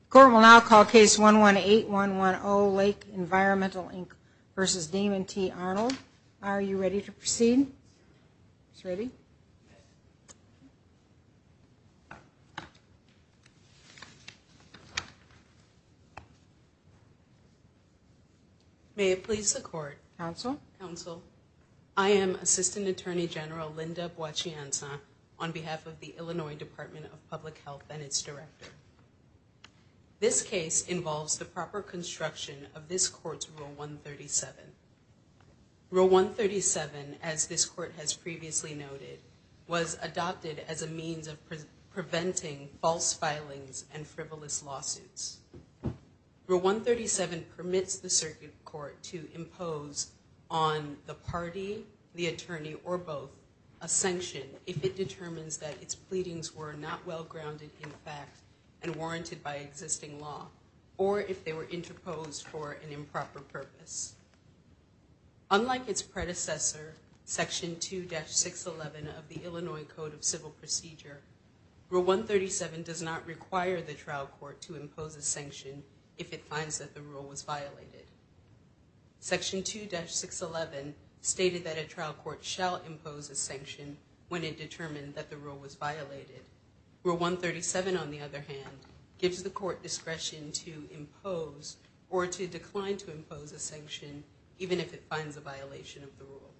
The Court will now call Case 118-110, Lake Environmental, Inc. v. Damon T. Arnold. Are you ready to proceed? Ready? May it please the Court. Counsel. Counsel. I am Assistant Attorney General Linda Boachienza on behalf of the Illinois Department of Public Health and its Director. This case involves the proper construction of this Court's Rule 137. Rule 137, as this Court has previously noted, was adopted as a means of preventing false filings and frivolous lawsuits. Rule 137 permits the Circuit Court to impose on the party, the attorney, or both, a sanction if it determines that its pleadings were not well-grounded in fact and warranted by existing law, or if they were interposed for an improper purpose. Unlike its predecessor, Section 2-611 of the Illinois Code of Civil Procedure, Rule 137 does not require the trial court to impose a sanction if it finds that the rule was violated. Section 2-611 stated that a trial court shall impose a sanction when it determined that the rule was violated. Rule 137, on the other hand, gives the Court discretion to impose or to decline to impose a sanction even if it finds a violation of the rule.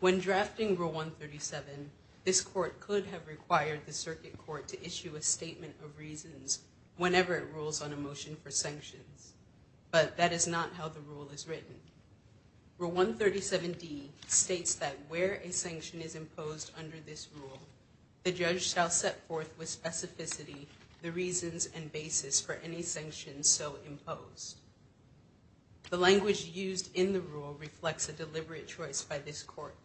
When drafting Rule 137, this Court could have required the Circuit Court to issue a Statement of Reasons whenever it rules on a motion for sanctions, but that is not how the rule is written. Rule 137d states that where a sanction is imposed under this rule, the judge shall set forth with specificity the reasons and basis for any sanction so imposed. The language used in the rule reflects a deliberate choice by this Court.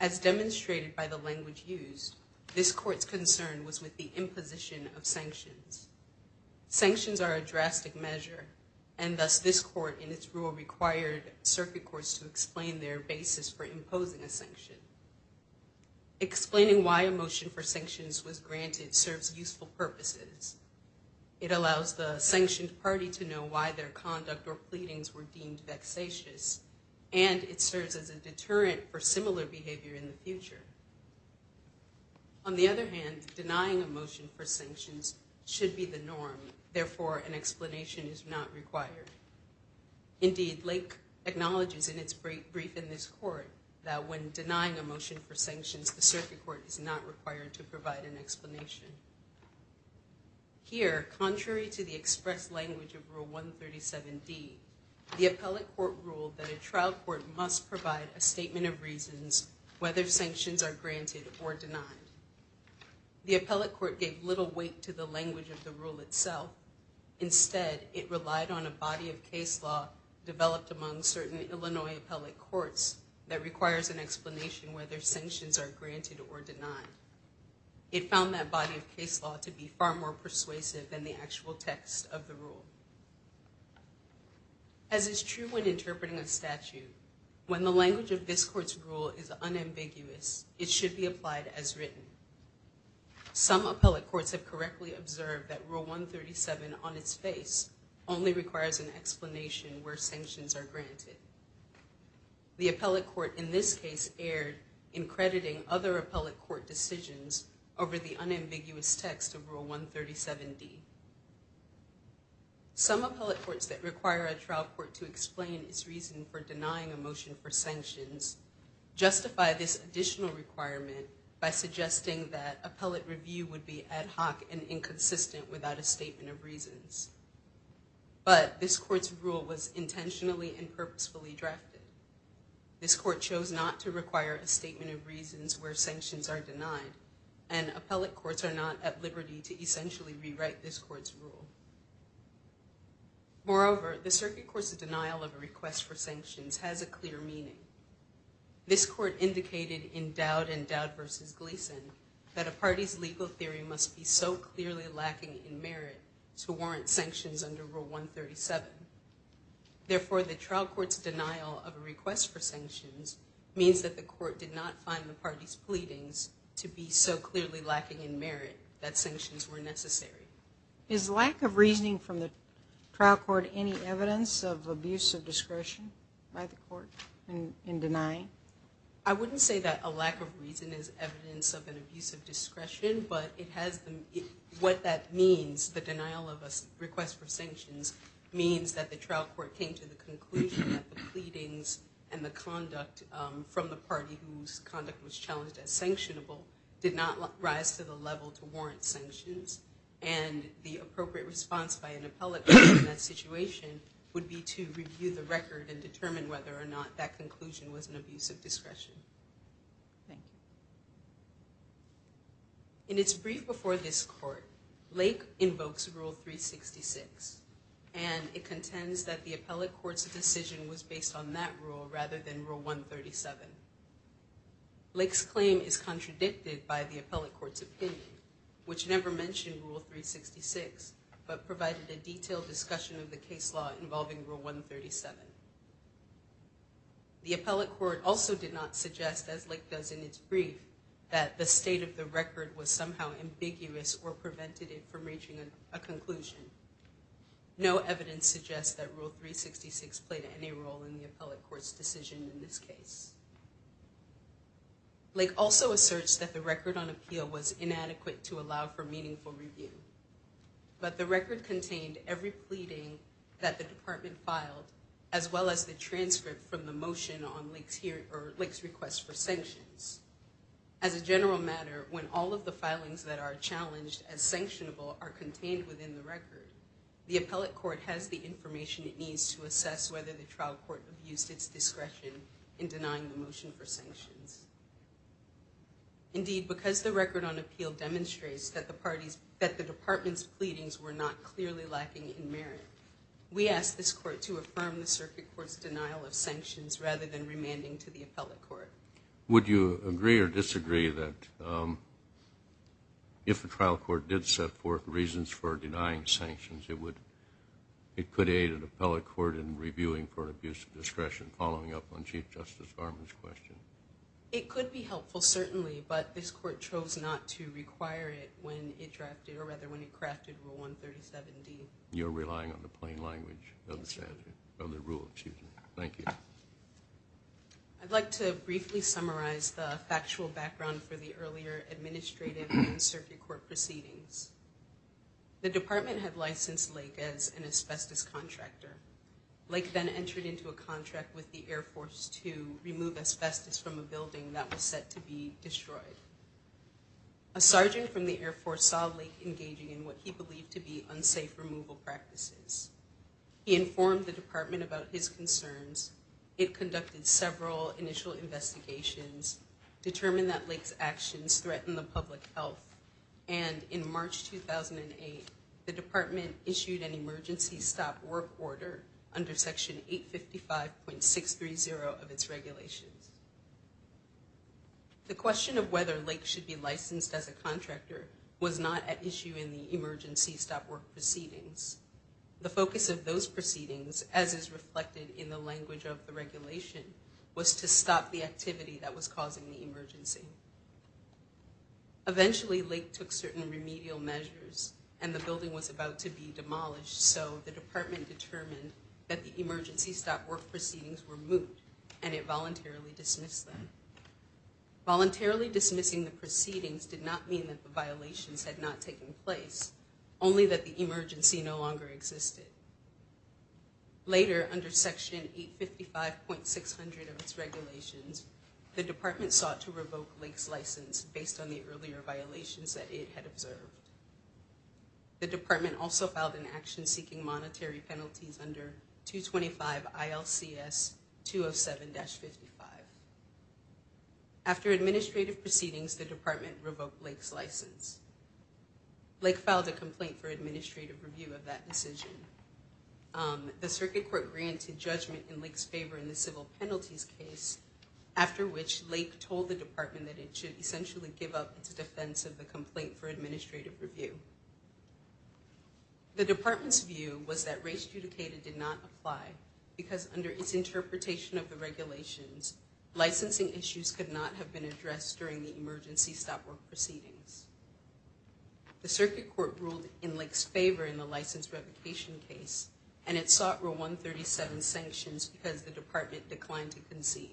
As demonstrated by the language used, this Court's concern was with the imposition of sanctions. Sanctions are a drastic measure, and thus this Court in its rule required Circuit Courts to explain their basis for imposing a sanction. Explaining why a motion for sanctions was granted serves useful purposes. It allows the sanctioned party to know why their conduct or pleadings were deemed vexatious, and it serves as a deterrent for similar behavior in the future. On the other hand, denying a motion for sanctions should be the norm. Therefore, an explanation is not required. Indeed, Lake acknowledges in its brief in this Court that when denying a motion for sanctions, the Circuit Court is not required to provide an explanation. Here, contrary to the express language of Rule 137d, the Appellate Court ruled that a trial court must provide a statement of reasons whether sanctions are granted or denied. The Appellate Court gave little weight to the language of the rule itself. Instead, it relied on a body of case law developed among certain Illinois Appellate Courts that requires an explanation whether sanctions are granted or denied. It found that body of case law to be far more persuasive than the actual text of the rule. As is true when interpreting a statute, when the language of this Court's rule is unambiguous, it should be applied as written. Some Appellate Courts have correctly observed that Rule 137 on its face only requires an explanation where sanctions are granted. The Appellate Court in this case erred in crediting other Appellate Court decisions over the unambiguous text of Rule 137d. Some Appellate Courts that require a trial court to explain its reason for denying a motion for sanctions justify this additional requirement by suggesting that appellate review would be ad hoc and inconsistent without a statement of reasons. But this Court's rule was intentionally and purposefully drafted. This Court chose not to require a statement of reasons where sanctions are denied and Appellate Courts are not at liberty to essentially rewrite this Court's rule. Moreover, the Circuit Court's denial of a request for sanctions has a clear meaning. This Court indicated in Dowd v. Gleason that a party's legal theory must be so clearly lacking in merit to warrant sanctions under Rule 137. Therefore, the trial court's denial of a request for sanctions means that the Court did not find the party's pleadings to be so clearly lacking in merit that sanctions were necessary. Is lack of reasoning from the trial court any evidence of abuse of discretion by the Court in denying? I wouldn't say that a lack of reason is evidence of an abuse of discretion, but what that means, the denial of a request for sanctions, means that the trial court came to the conclusion that the pleadings and the conduct from the party whose conduct was challenged as sanctionable did not rise to the level to warrant sanctions. And the appropriate response by an appellate in that situation would be to review the record and determine whether or not that conclusion was an abuse of discretion. Thank you. In its brief before this Court, Lake invokes Rule 366, and it contends that the appellate court's decision was based on that rule rather than Rule 137. Lake's claim is contradicted by the appellate court's opinion, which never mentioned Rule 366, but provided a detailed discussion of the case law involving Rule 137. The appellate court also did not suggest, as Lake does in its brief, that the state of the record was somehow ambiguous or prevented it from reaching a conclusion. No evidence suggests that Rule 366 played any role in the appellate court's decision in this case. Lake also asserts that the record on appeal was inadequate to allow for meaningful review. But the record contained every pleading that the Department filed, as well as the transcript from the motion on Lake's request for sanctions. As a general matter, when all of the filings that are challenged as sanctionable are contained within the record, the appellate court has the information it needs to assess whether the trial court abused its discretion in denying the motion for sanctions. Indeed, because the record on appeal demonstrates that the Department's pleadings were not clearly lacking in merit, we ask this court to affirm the circuit court's denial of sanctions rather than remanding to the appellate court. Would you agree or disagree that if a trial court did set forth reasons for denying sanctions, it could aid an appellate court in reviewing for an abuse of discretion, following up on Chief Justice Garmon's question? It could be helpful, certainly, but this court chose not to require it when it drafted or rather when it crafted Rule 137D. You're relying on the plain language of the statute, of the rule, excuse me. Thank you. I'd like to briefly summarize the factual background for the earlier administrative and circuit court proceedings. The Department had licensed Lake as an asbestos contractor. Lake then entered into a contract with the Air Force to remove asbestos from a building that was set to be destroyed. A sergeant from the Air Force saw Lake engaging in what he believed to be unsafe removal practices. He informed the Department about his concerns. It conducted several initial investigations, determined that Lake's actions threatened the public health, and in March 2008, the Department issued an emergency stop work order under Section 855.630 of its regulations. The question of whether Lake should be licensed as a contractor was not at issue in the emergency stop work proceedings. The focus of those proceedings, as is reflected in the language of the regulation, was to stop the activity that was causing the emergency. Eventually, Lake took certain remedial measures and the building was about to be demolished, so the Department determined that the emergency stop work proceedings were moot, and it voluntarily dismissed them. Voluntarily dismissing the proceedings did not mean that the violations had not taken place, only that the emergency no longer existed. Later, under Section 855.600 of its regulations, the Department sought to revoke Lake's license based on the earlier violations that it had observed. The Department also filed an action seeking monetary penalties under 225 ILCS 207-55. After administrative proceedings, the Department revoked Lake's license. Lake filed a complaint for administrative review of that decision. The Circuit Court granted judgment in Lake's favor in the civil penalties case, after which Lake told the Department that it should essentially give up its defense of the complaint for administrative review. The Department's view was that race adjudicated did not apply, because under its interpretation of the regulations, licensing issues could not have been addressed during the emergency stop work proceedings. The Circuit Court ruled in Lake's favor in the license revocation case, and it sought Rule 137 sanctions because the Department declined to concede.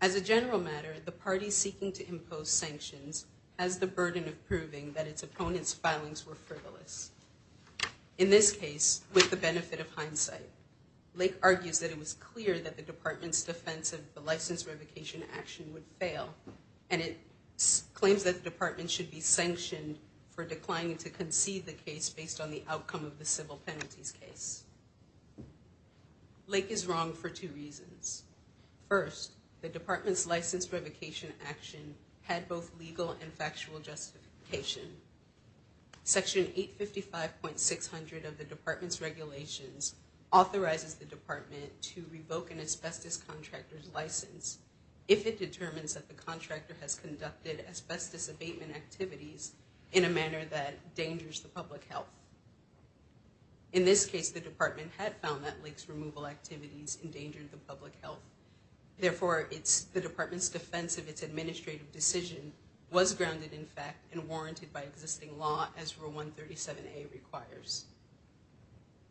As a general matter, the party seeking to impose sanctions has the burden of proving that its opponents' filings were frivolous. In this case, with the benefit of hindsight, Lake argues that it was clear that the Department's defense of the license revocation action would fail, and it claims that the Department should be sanctioned for declining to concede the case based on the outcome of the civil penalties case. Lake is wrong for two reasons. First, the Department's license revocation action had both legal and factual justification. Section 855.600 of the Department's regulations authorizes the Department to revoke an asbestos contractor's license if it determines that the contractor has conducted asbestos abatement activities in a manner that dangers the public health. In this case, the Department had found that Lake's removal activities endangered the public health. Therefore, the Department's defense of its administrative decision was grounded in fact and warranted by existing law as Rule 137a requires.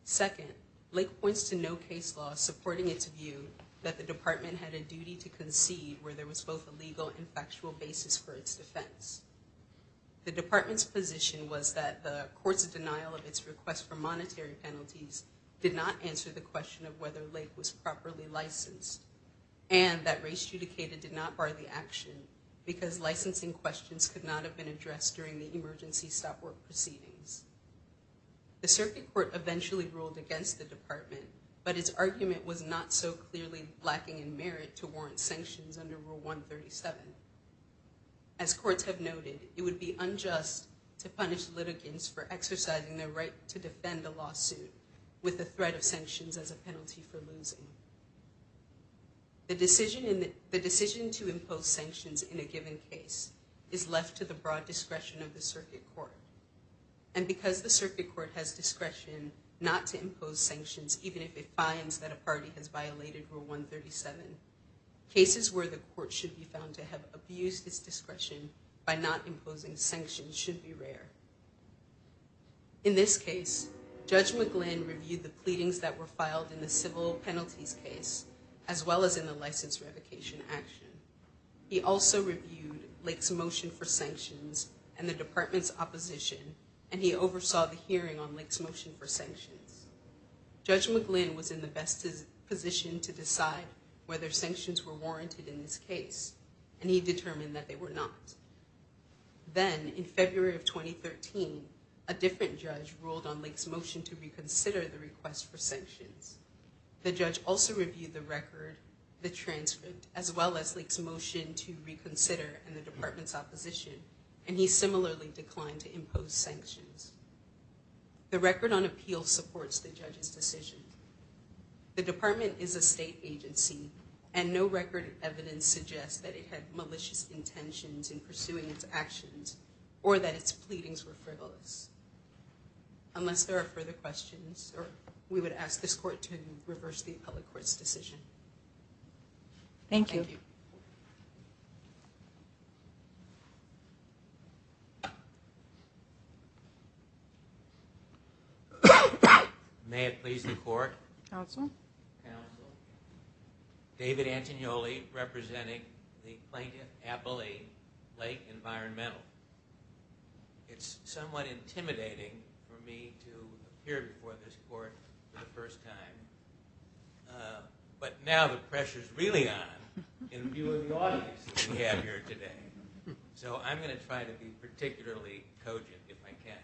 Second, Lake points to no case law supporting its view that the Department had a duty to concede where there was both a legal and factual basis for its defense. The Department's position was that the court's denial of its request for monetary penalties did not answer the question of whether Lake was properly licensed, and that race adjudicated did not bar the action because licensing questions could not have been addressed during the emergency stop work proceedings. The Circuit Court eventually ruled against the Department, but its argument was not so clearly lacking in merit to warrant sanctions under Rule 137. As courts have noted, it would be unjust to punish litigants for exercising their right to defend a lawsuit with the threat of sanctions as a penalty for losing. The decision to impose sanctions in a given case is left to the broad discretion of the Circuit Court. And because the Circuit Court has discretion not to impose sanctions even if it finds that a party has violated Rule 137, cases where the court should be found to have abused its discretion by not imposing sanctions should be rare. In this case, Judge McGlynn reviewed the pleadings that were filed in the civil penalties case as well as in the license revocation action. He also reviewed Lake's motion for sanctions and the Department's opposition, and he oversaw the hearing on Lake's motion for sanctions. Judge McGlynn was in the best position to decide whether sanctions were warranted in this case, and he determined that they were not. Then, in February of 2013, a different judge ruled on Lake's motion to reconsider the request for sanctions. The judge also reviewed the record, the transcript, as well as Lake's motion to reconsider and the Department's opposition, and he similarly declined to impose sanctions. The record on appeals supports the judge's decision. The Department is a state agency, and no record of evidence suggests that it had malicious intentions in pursuing its actions or that its pleadings were frivolous. Unless there are further questions, we would ask this court to reverse the appellate court's decision. Thank you. May it please the court? Counsel? Counsel. David Antignoli, representing the plaintiff appellate, Lake Environmental. It's somewhat intimidating for me to appear before this court for the first time, but now the pressure's really on, in view of the audience that we have here today. So I'm going to try to be particularly cogent, if I can.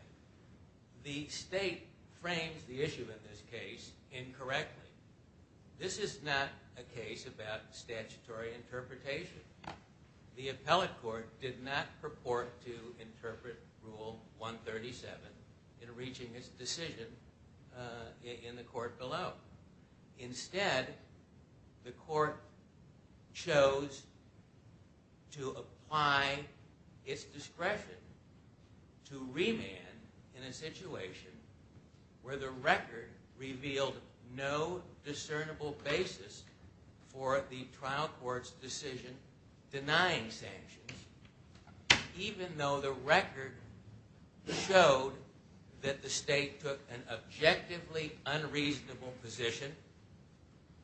The state frames the issue in this case incorrectly. This is not a case about statutory interpretation. The appellate court did not purport to interpret Rule 137 in reaching its decision in the court below. Instead, the court chose to apply its discretion to remand in a situation where the record revealed no discernible basis for the trial court's decision denying sanctions, even though the record showed that the state took an objectively unreasonable position,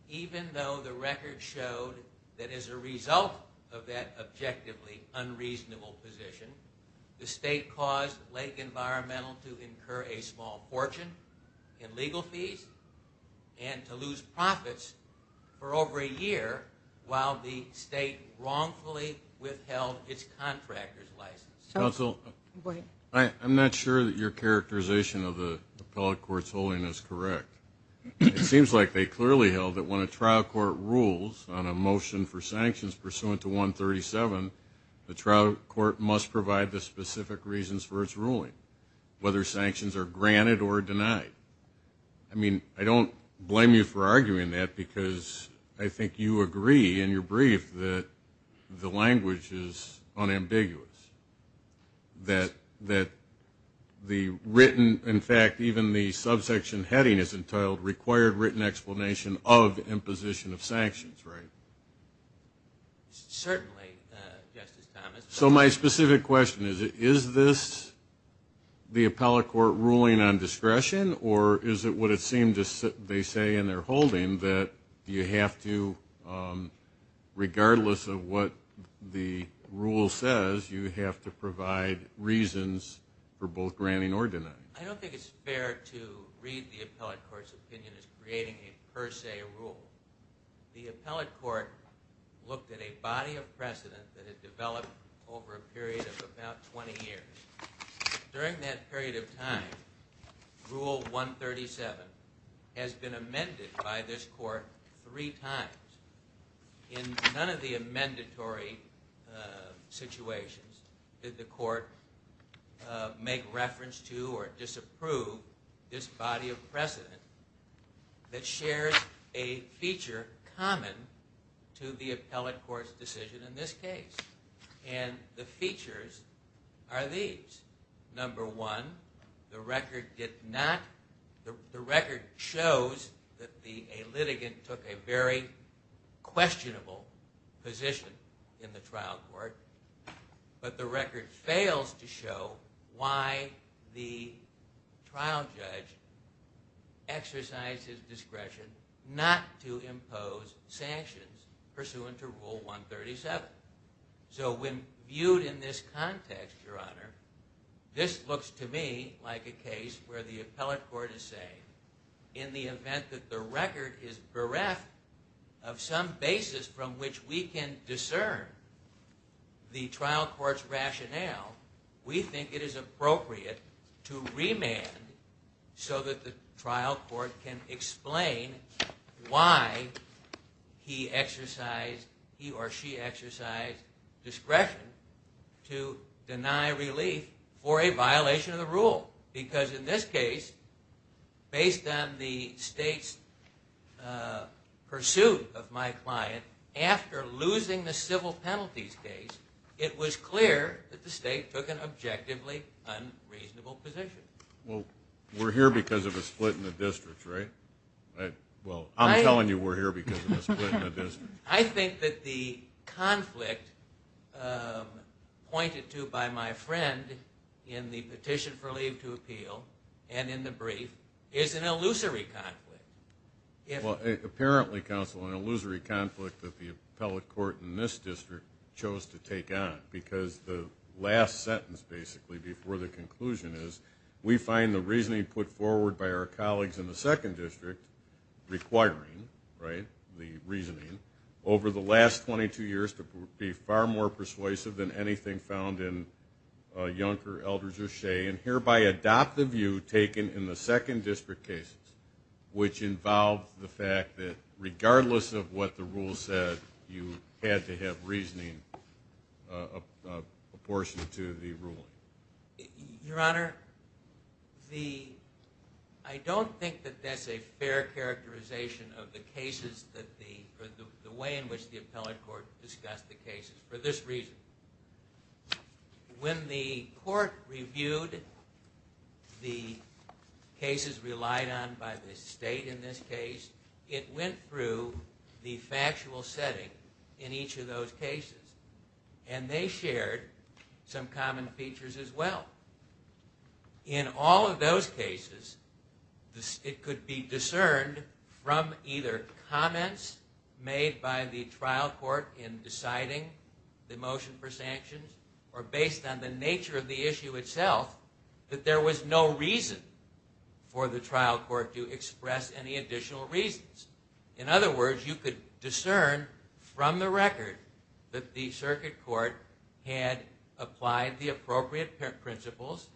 even though the record showed that as a result of that objectively unreasonable position, the state caused Lake Environmental to incur a small fortune in legal fees and to lose profits for over a year while the state wrongfully withheld its contractor's license. Counsel, I'm not sure that your characterization of the appellate court's holding is correct. It seems like they clearly held that when a trial court rules on a motion for sanctions pursuant to 137, the trial court must provide the specific reasons for its ruling, whether sanctions are granted or denied. I mean, I don't blame you for arguing that because I think you agree in your brief that the language is unambiguous, that the written, in fact, even the subsection heading is entitled required written explanation of imposition of sanctions, right? Certainly, Justice Thomas. So my specific question is, is this the appellate court ruling on discretion or is it what it seemed they say in their holding that you have to, regardless of what the rule says, you have to provide reasons for both granting or denying? I don't think it's fair to read the appellate court's opinion as creating a per se rule. The appellate court looked at a body of precedent that had developed over a period of about 20 years. During that period of time, Rule 137 has been amended by this court three times. In none of the amendatory situations did the court make reference to or disapprove this body of precedent that shares a feature common to the appellate court's decision in this case. And the features are these. Number one, the record shows that a litigant took a very questionable position in the trial court, but the record fails to show why the trial judge exercised his discretion not to impose sanctions pursuant to Rule 137. So when viewed in this context, Your Honor, this looks to me like a case where the appellate court is saying, in the event that the record is bereft of some basis from which we can discern the trial court's rationale, we think it is appropriate to remand so that the trial court can explain why he or she exercised discretion to deny relief for a violation of the rule. Because in this case, based on the state's pursuit of my client, after losing the civil penalties case, it was clear that the state took an objectively unreasonable position. Well, we're here because of a split in the districts, right? Well, I'm telling you we're here because of a split in the districts. I think that the conflict pointed to by my friend in the petition for leave to appeal and in the brief is an illusory conflict. Well, apparently, counsel, an illusory conflict that the appellate court in this district chose to take on, because the last sentence, basically, before the conclusion is, we find the reasoning put forward by our colleagues in the second district requiring, right, the reasoning, over the last 22 years to be far more persuasive than anything found in Yonker, Eldridge, or Shea, and hereby adopt the view taken in the second district cases, which involves the fact that regardless of what the rule said, you had to have reasoning apportioned to the ruling. Your Honor, I don't think that that's a fair characterization of the cases, or the way in which the appellate court discussed the cases, for this reason. When the court reviewed the cases relied on by the state in this case, it went through the factual setting in each of those cases, and they shared some common features as well. In all of those cases, it could be discerned from either comments made by the trial court in deciding the motion for sanctions, or based on the nature of the issue itself, that there was no reason for the trial court to express any additional reasons. In other words, you could discern from the record that the circuit court had applied the appropriate principles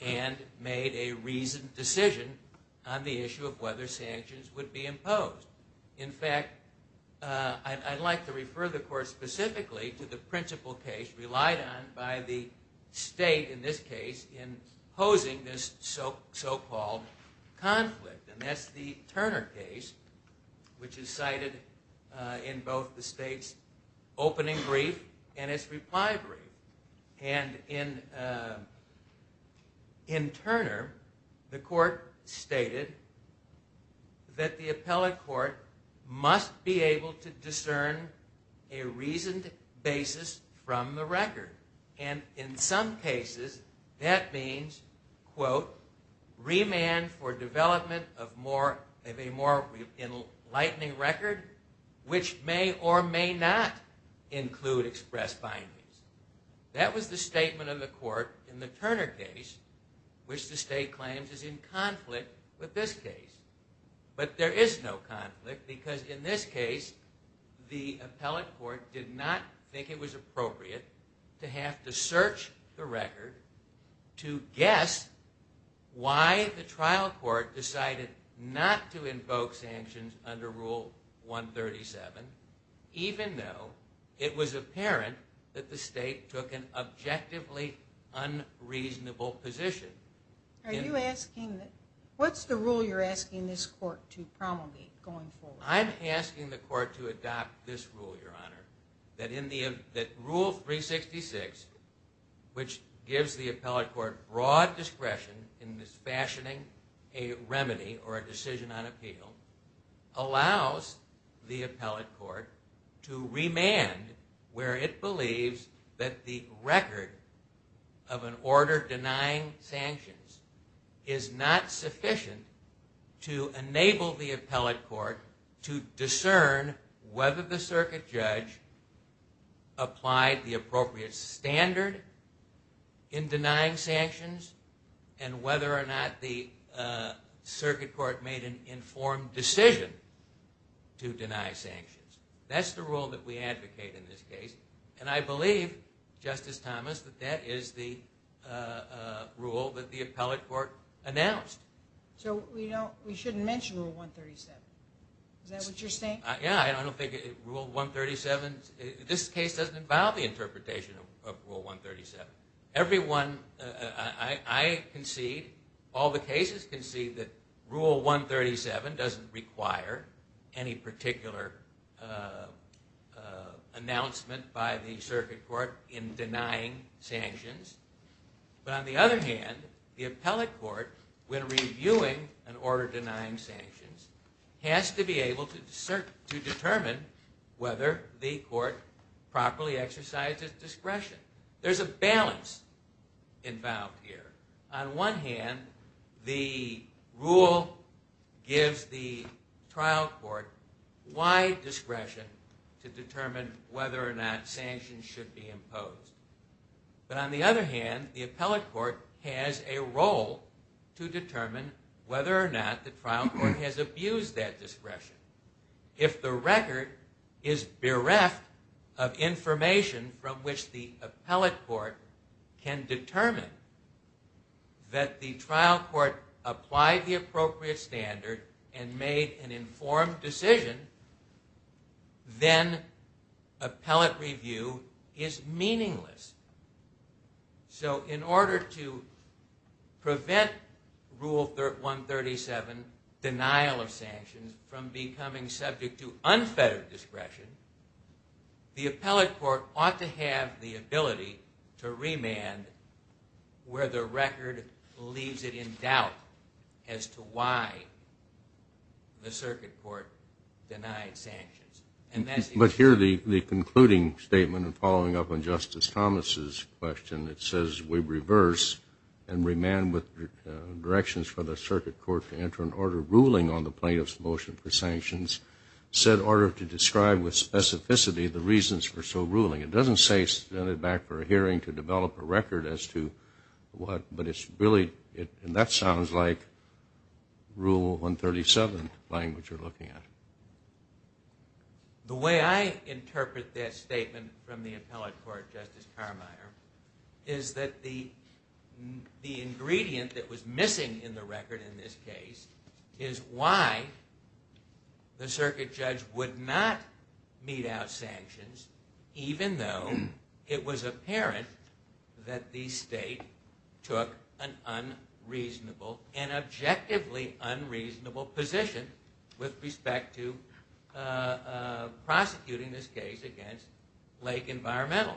and made a reasoned decision on the issue of whether sanctions would be imposed. In fact, I'd like to refer the court specifically to the principle case relied on by the state in this case in posing this so-called conflict. And that's the Turner case, which is cited in both the state's opening brief and its reply brief. And in Turner, the court stated that the appellate court must be able to discern a reasoned basis from the record. And in some cases, that means, quote, remand for development of a more enlightening record, which may or may not include express findings. That was the statement of the court in the Turner case, which the state claims is in conflict with this case. But there is no conflict, because in this case, the appellate court did not think it was appropriate to have to search the record to guess why the trial court decided not to invoke sanctions under Rule 137, even though it was apparent that the state took an objectively unreasonable position. What's the rule you're asking this court to promulgate going forward? I'm asking the court to adopt this rule, Your Honor, that Rule 366, which gives the appellate court broad discretion in dispassioning a remedy or a decision on appeal, allows the appellate court to remand where it believes that the record of an order denying sanctions is not sufficient to enable the appellate court to discern whether the circuit judge applied the appropriate standard in denying sanctions and whether or not the circuit court made an informed decision to deny sanctions. That's the rule that we advocate in this case, and I believe, Justice Thomas, that that is the rule that the appellate court announced. So we shouldn't mention Rule 137. Is that what you're saying? Yeah, I don't think Rule 137 – this case doesn't involve the interpretation of Rule 137. Everyone – I concede, all the cases concede that Rule 137 doesn't require any particular announcement by the circuit court in denying sanctions. But on the other hand, the appellate court, when reviewing an order denying sanctions, has to be able to determine whether the court properly exercises discretion. There's a balance involved here. On one hand, the rule gives the trial court wide discretion to determine whether or not sanctions should be imposed. But on the other hand, the appellate court has a role to determine whether or not the trial court has abused that discretion. If the record is bereft of information from which the appellate court can determine that the trial court applied the appropriate standard and made an informed decision, then appellate review is meaningless. So in order to prevent Rule 137, denial of sanctions, from becoming subject to unfettered discretion, the appellate court ought to have the ability to remand where the record leaves it in doubt as to why the circuit court denied sanctions. But here the concluding statement and following up on Justice Thomas' question, it says we reverse and remand with directions for the circuit court to enter an order ruling on the plaintiff's motion for sanctions. Said order to describe with specificity the reasons for so ruling. It doesn't say it's sent it back for a hearing to develop a record as to what, and that sounds like Rule 137 language you're looking at. The way I interpret that statement from the appellate court, Justice Carmeier, is that the ingredient that was missing in the record in this case is why the circuit judge would not mete out sanctions even though it was apparent that the state took an unreasonable, an objectively unreasonable position with respect to prosecuting this case against Lake Environmental.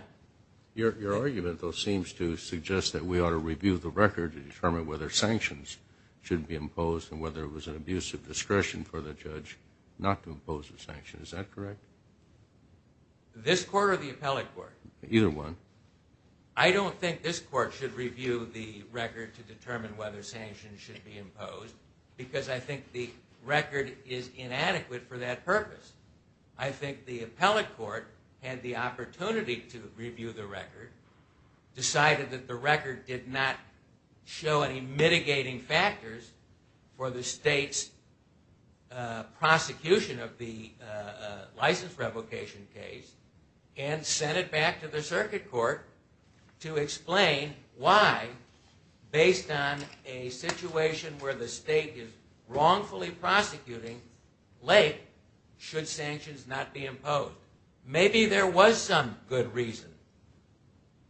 Your argument, though, seems to suggest that we ought to review the record to determine whether sanctions should be imposed and whether it was an abuse of discretion for the judge not to impose a sanction. Is that correct? This court or the appellate court? Either one. I don't think this court should review the record to determine whether sanctions should be imposed because I think the record is inadequate for that purpose. I think the appellate court had the opportunity to review the record, decided that the record did not show any mitigating factors for the state's prosecution of the license revocation case, and sent it back to the circuit court to explain why, based on a situation where the state is wrongfully prosecuting Lake, should sanctions not be imposed. Maybe there was some good reason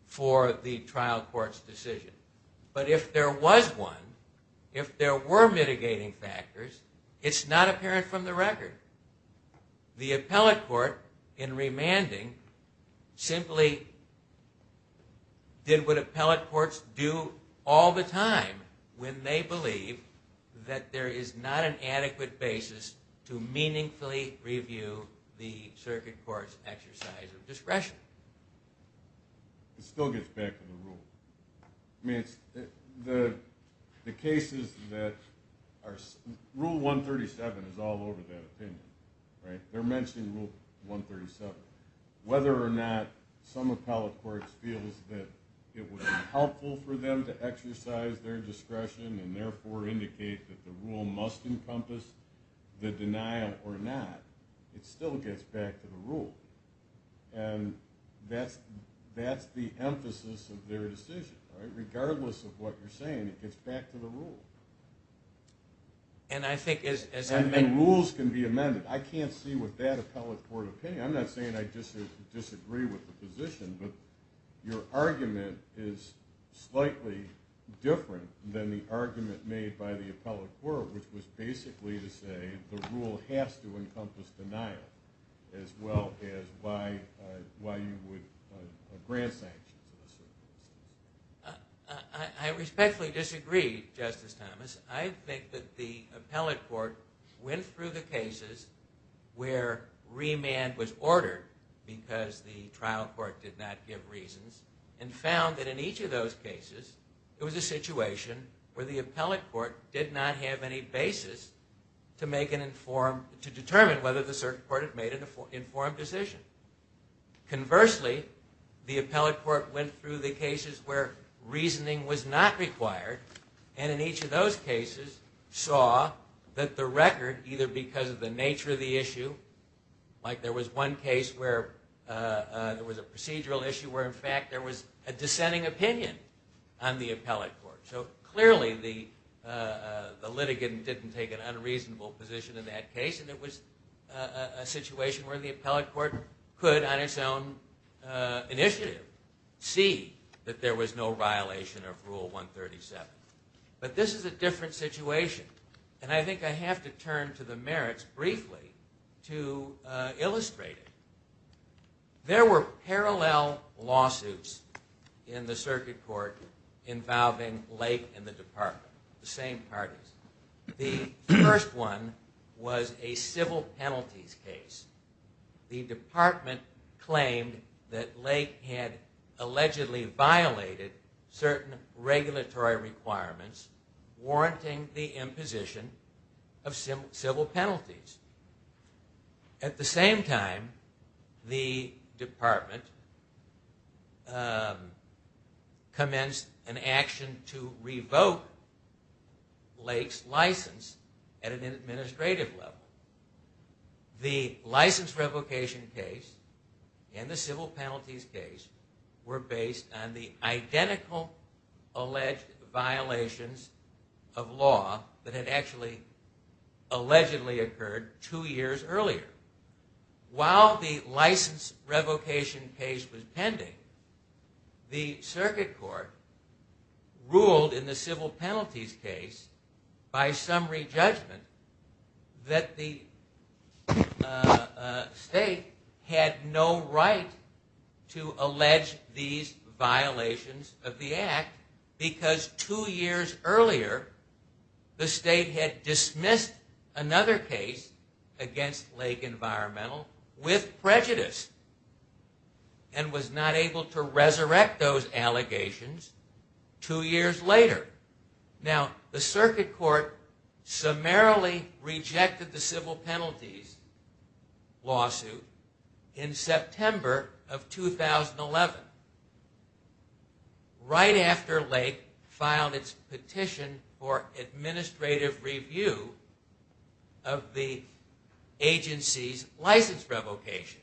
for the trial court's decision. But if there was one, if there were mitigating factors, it's not apparent from the record. The appellate court, in remanding, simply did what appellate courts do all the time when they believe that there is not an adequate basis to meaningfully review the circuit court's exercise of discretion. It still gets back to the rule. Rule 137 is all over that opinion. They're mentioning Rule 137. Whether or not some appellate court feels that it would be helpful for them to exercise their discretion and, therefore, indicate that the rule must encompass the denial or not, it still gets back to the rule. And that's the emphasis of their decision. Regardless of what you're saying, it gets back to the rule. And rules can be amended. I can't see what that appellate court opinion. I'm not saying I disagree with the position, but your argument is slightly different than the argument made by the appellate court, which was basically to say the rule has to encompass denial, as well as why you would grant sanctions. I respectfully disagree, Justice Thomas. I think that the appellate court went through the cases where remand was not given reasons and found that in each of those cases, there was a situation where the appellate court did not have any basis to determine whether the circuit court had made an informed decision. Conversely, the appellate court went through the cases where reasoning was not required, and in each of those cases saw that the record, either because of the nature of the issue, like there was one case where there was a procedural issue where, in fact, there was a dissenting opinion on the appellate court. So clearly the litigant didn't take an unreasonable position in that case, and it was a situation where the appellate court could, on its own initiative, see that there was no violation of Rule 137. But this is a different situation. And I think I have to turn to the merits briefly to illustrate it. There were parallel lawsuits in the circuit court involving Lake and the department, the same parties. The first one was a civil penalties case. The department claimed that Lake had allegedly violated certain regulatory requirements, warranting the imposition of civil penalties. At the same time, the department commenced an action to revoke Lake's license at an administrative level. The license revocation case and the civil penalties case were based on the identical alleged violations of law that had actually allegedly occurred two years earlier. While the license revocation case was pending, the circuit court ruled in the civil penalties case by summary judgment that the state had no right to allege these violations of the act because two years earlier the state had dismissed another case against Lake Environmental with prejudice and was not able to resurrect those allegations two years later. Now, the circuit court summarily rejected the civil penalties lawsuit in September of 2011, right after Lake filed its petition for administrative review of the agency's license revocation.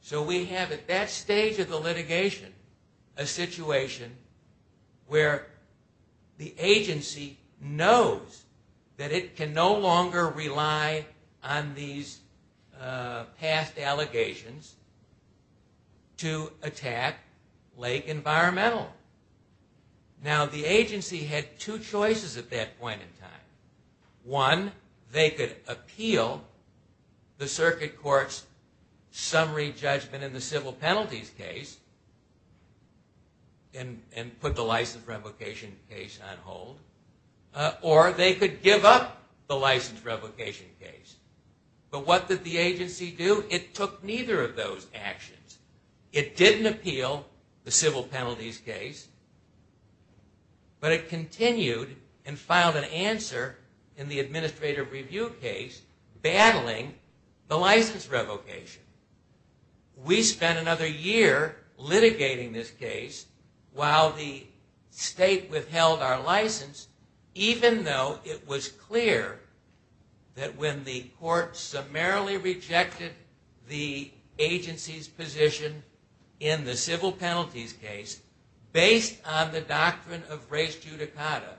So we have at that stage of the litigation a situation where the agency knows that it can no longer rely on these past allegations to attack Lake Environmental. Now, the agency had two choices at that point in time. One, they could appeal the circuit court's summary judgment in the civil penalties case and put the license revocation case on hold or they could give up the license revocation case. But what did the agency do? It took neither of those actions. It didn't appeal the civil penalties case but it continued and filed an answer in the administrative review case battling the license revocation. We spent another year litigating this case while the state withheld our license even though it was clear that when the court summarily rejected the agency's position in the civil penalties case based on the doctrine of res judicata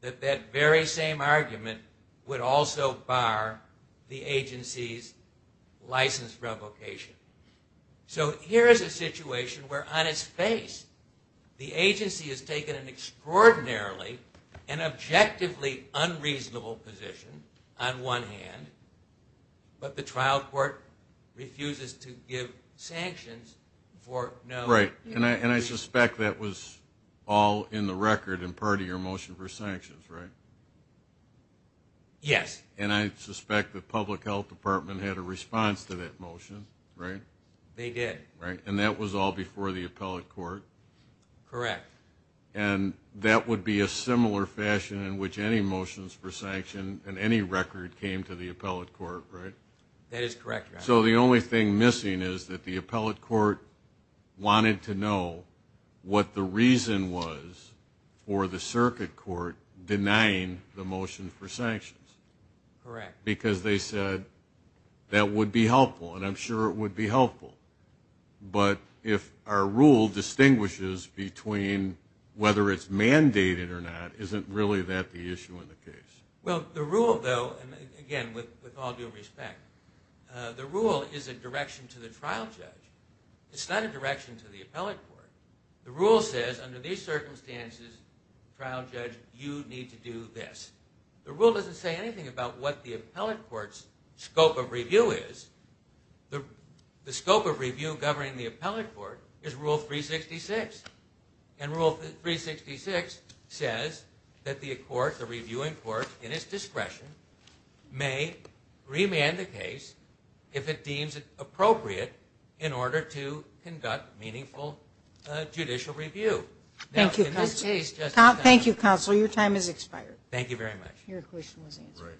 that that very same argument would also bar the agency's license revocation. So here is a situation where on its face the agency has taken an extraordinarily and objectively unreasonable position on one hand but the trial court refuses to give sanctions for no reason. And I suspect that was all in the record in part of your motion for sanctions, right? Yes. And I suspect the public health department had a response to that motion, right? They did. And that was all before the appellate court? Correct. And that would be a similar fashion in which any motions for sanction in any record came to the appellate court, right? That is correct. So the only thing missing is that the appellate court wanted to know what the reason was for the circuit court denying the motion for sanctions. Correct. Because they said that would be helpful and I'm sure it would be helpful. But if our rule distinguishes between whether it's mandated or not, isn't really that the issue in the case? Well, the rule, though, and, again, with all due respect, the rule is a direction to the trial judge. It's not a direction to the appellate court. The rule says under these circumstances, trial judge, you need to do this. The rule doesn't say anything about what the appellate court's scope of review is. The scope of review governing the appellate court is Rule 366. And Rule 366 says that the court, the reviewing court, in its discretion, may remand the case if it deems it appropriate in order to conduct meaningful judicial review. Thank you. Thank you, Counselor. Your time has expired. Thank you very much. Your question was answered. Right.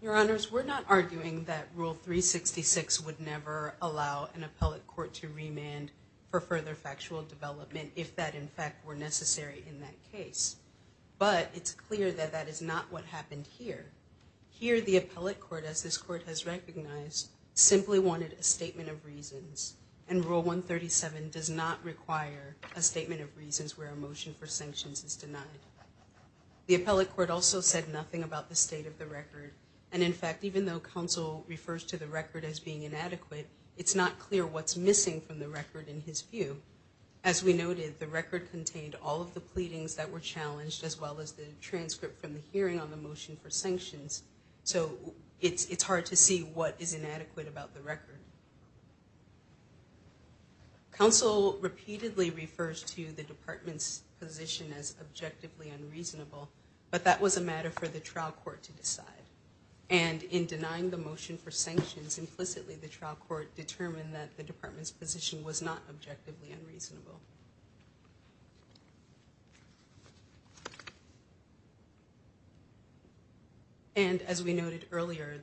Your Honors, we're not arguing that Rule 366 would never allow an appellate court to remand for further factual development if that, in fact, were necessary in that case. But it's clear that that is not what happened here. Here, the appellate court, as this court has recognized, simply wanted a statement of reasons. And Rule 137 does not require a statement of reasons where a motion for sanctions is denied. The appellate court also said nothing about the state of the record. And, in fact, even though Counsel refers to the record as being inadequate, it's not clear what's missing from the record in his view. As we noted, the record contained all of the pleadings that were challenged, as well as the transcript from the hearing on the motion for sanctions. So it's hard to see what is inadequate about the record. Counsel repeatedly refers to the Department's position as objectively unreasonable, but that was a matter for the trial court to decide. And in denying the motion for sanctions, implicitly the trial court determined that the Department's position was not objectively unreasonable. And, as we noted earlier,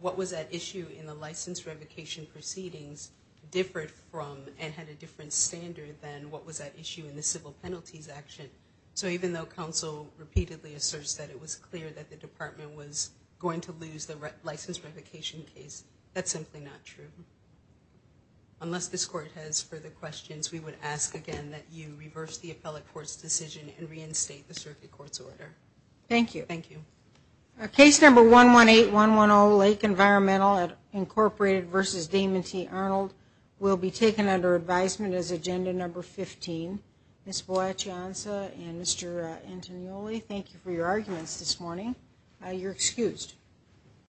what was at issue in the license revocation proceedings differed from and had a different standard than what was at issue in the civil penalties action. So even though Counsel repeatedly asserts that it was clear that the Department was going to lose the license revocation case, that's simply not true. Unless this court has further questions, we would ask again that you reverse the appellate court's decision and reinstate the circuit court's order. Thank you. Thank you. Case number 118110, Lake Environmental, Incorporated v. Damon T. Arnold, will be taken under advisement as agenda number 15. Ms. Boachianza and Mr. Antonioli, thank you for your arguments this morning. You're excused.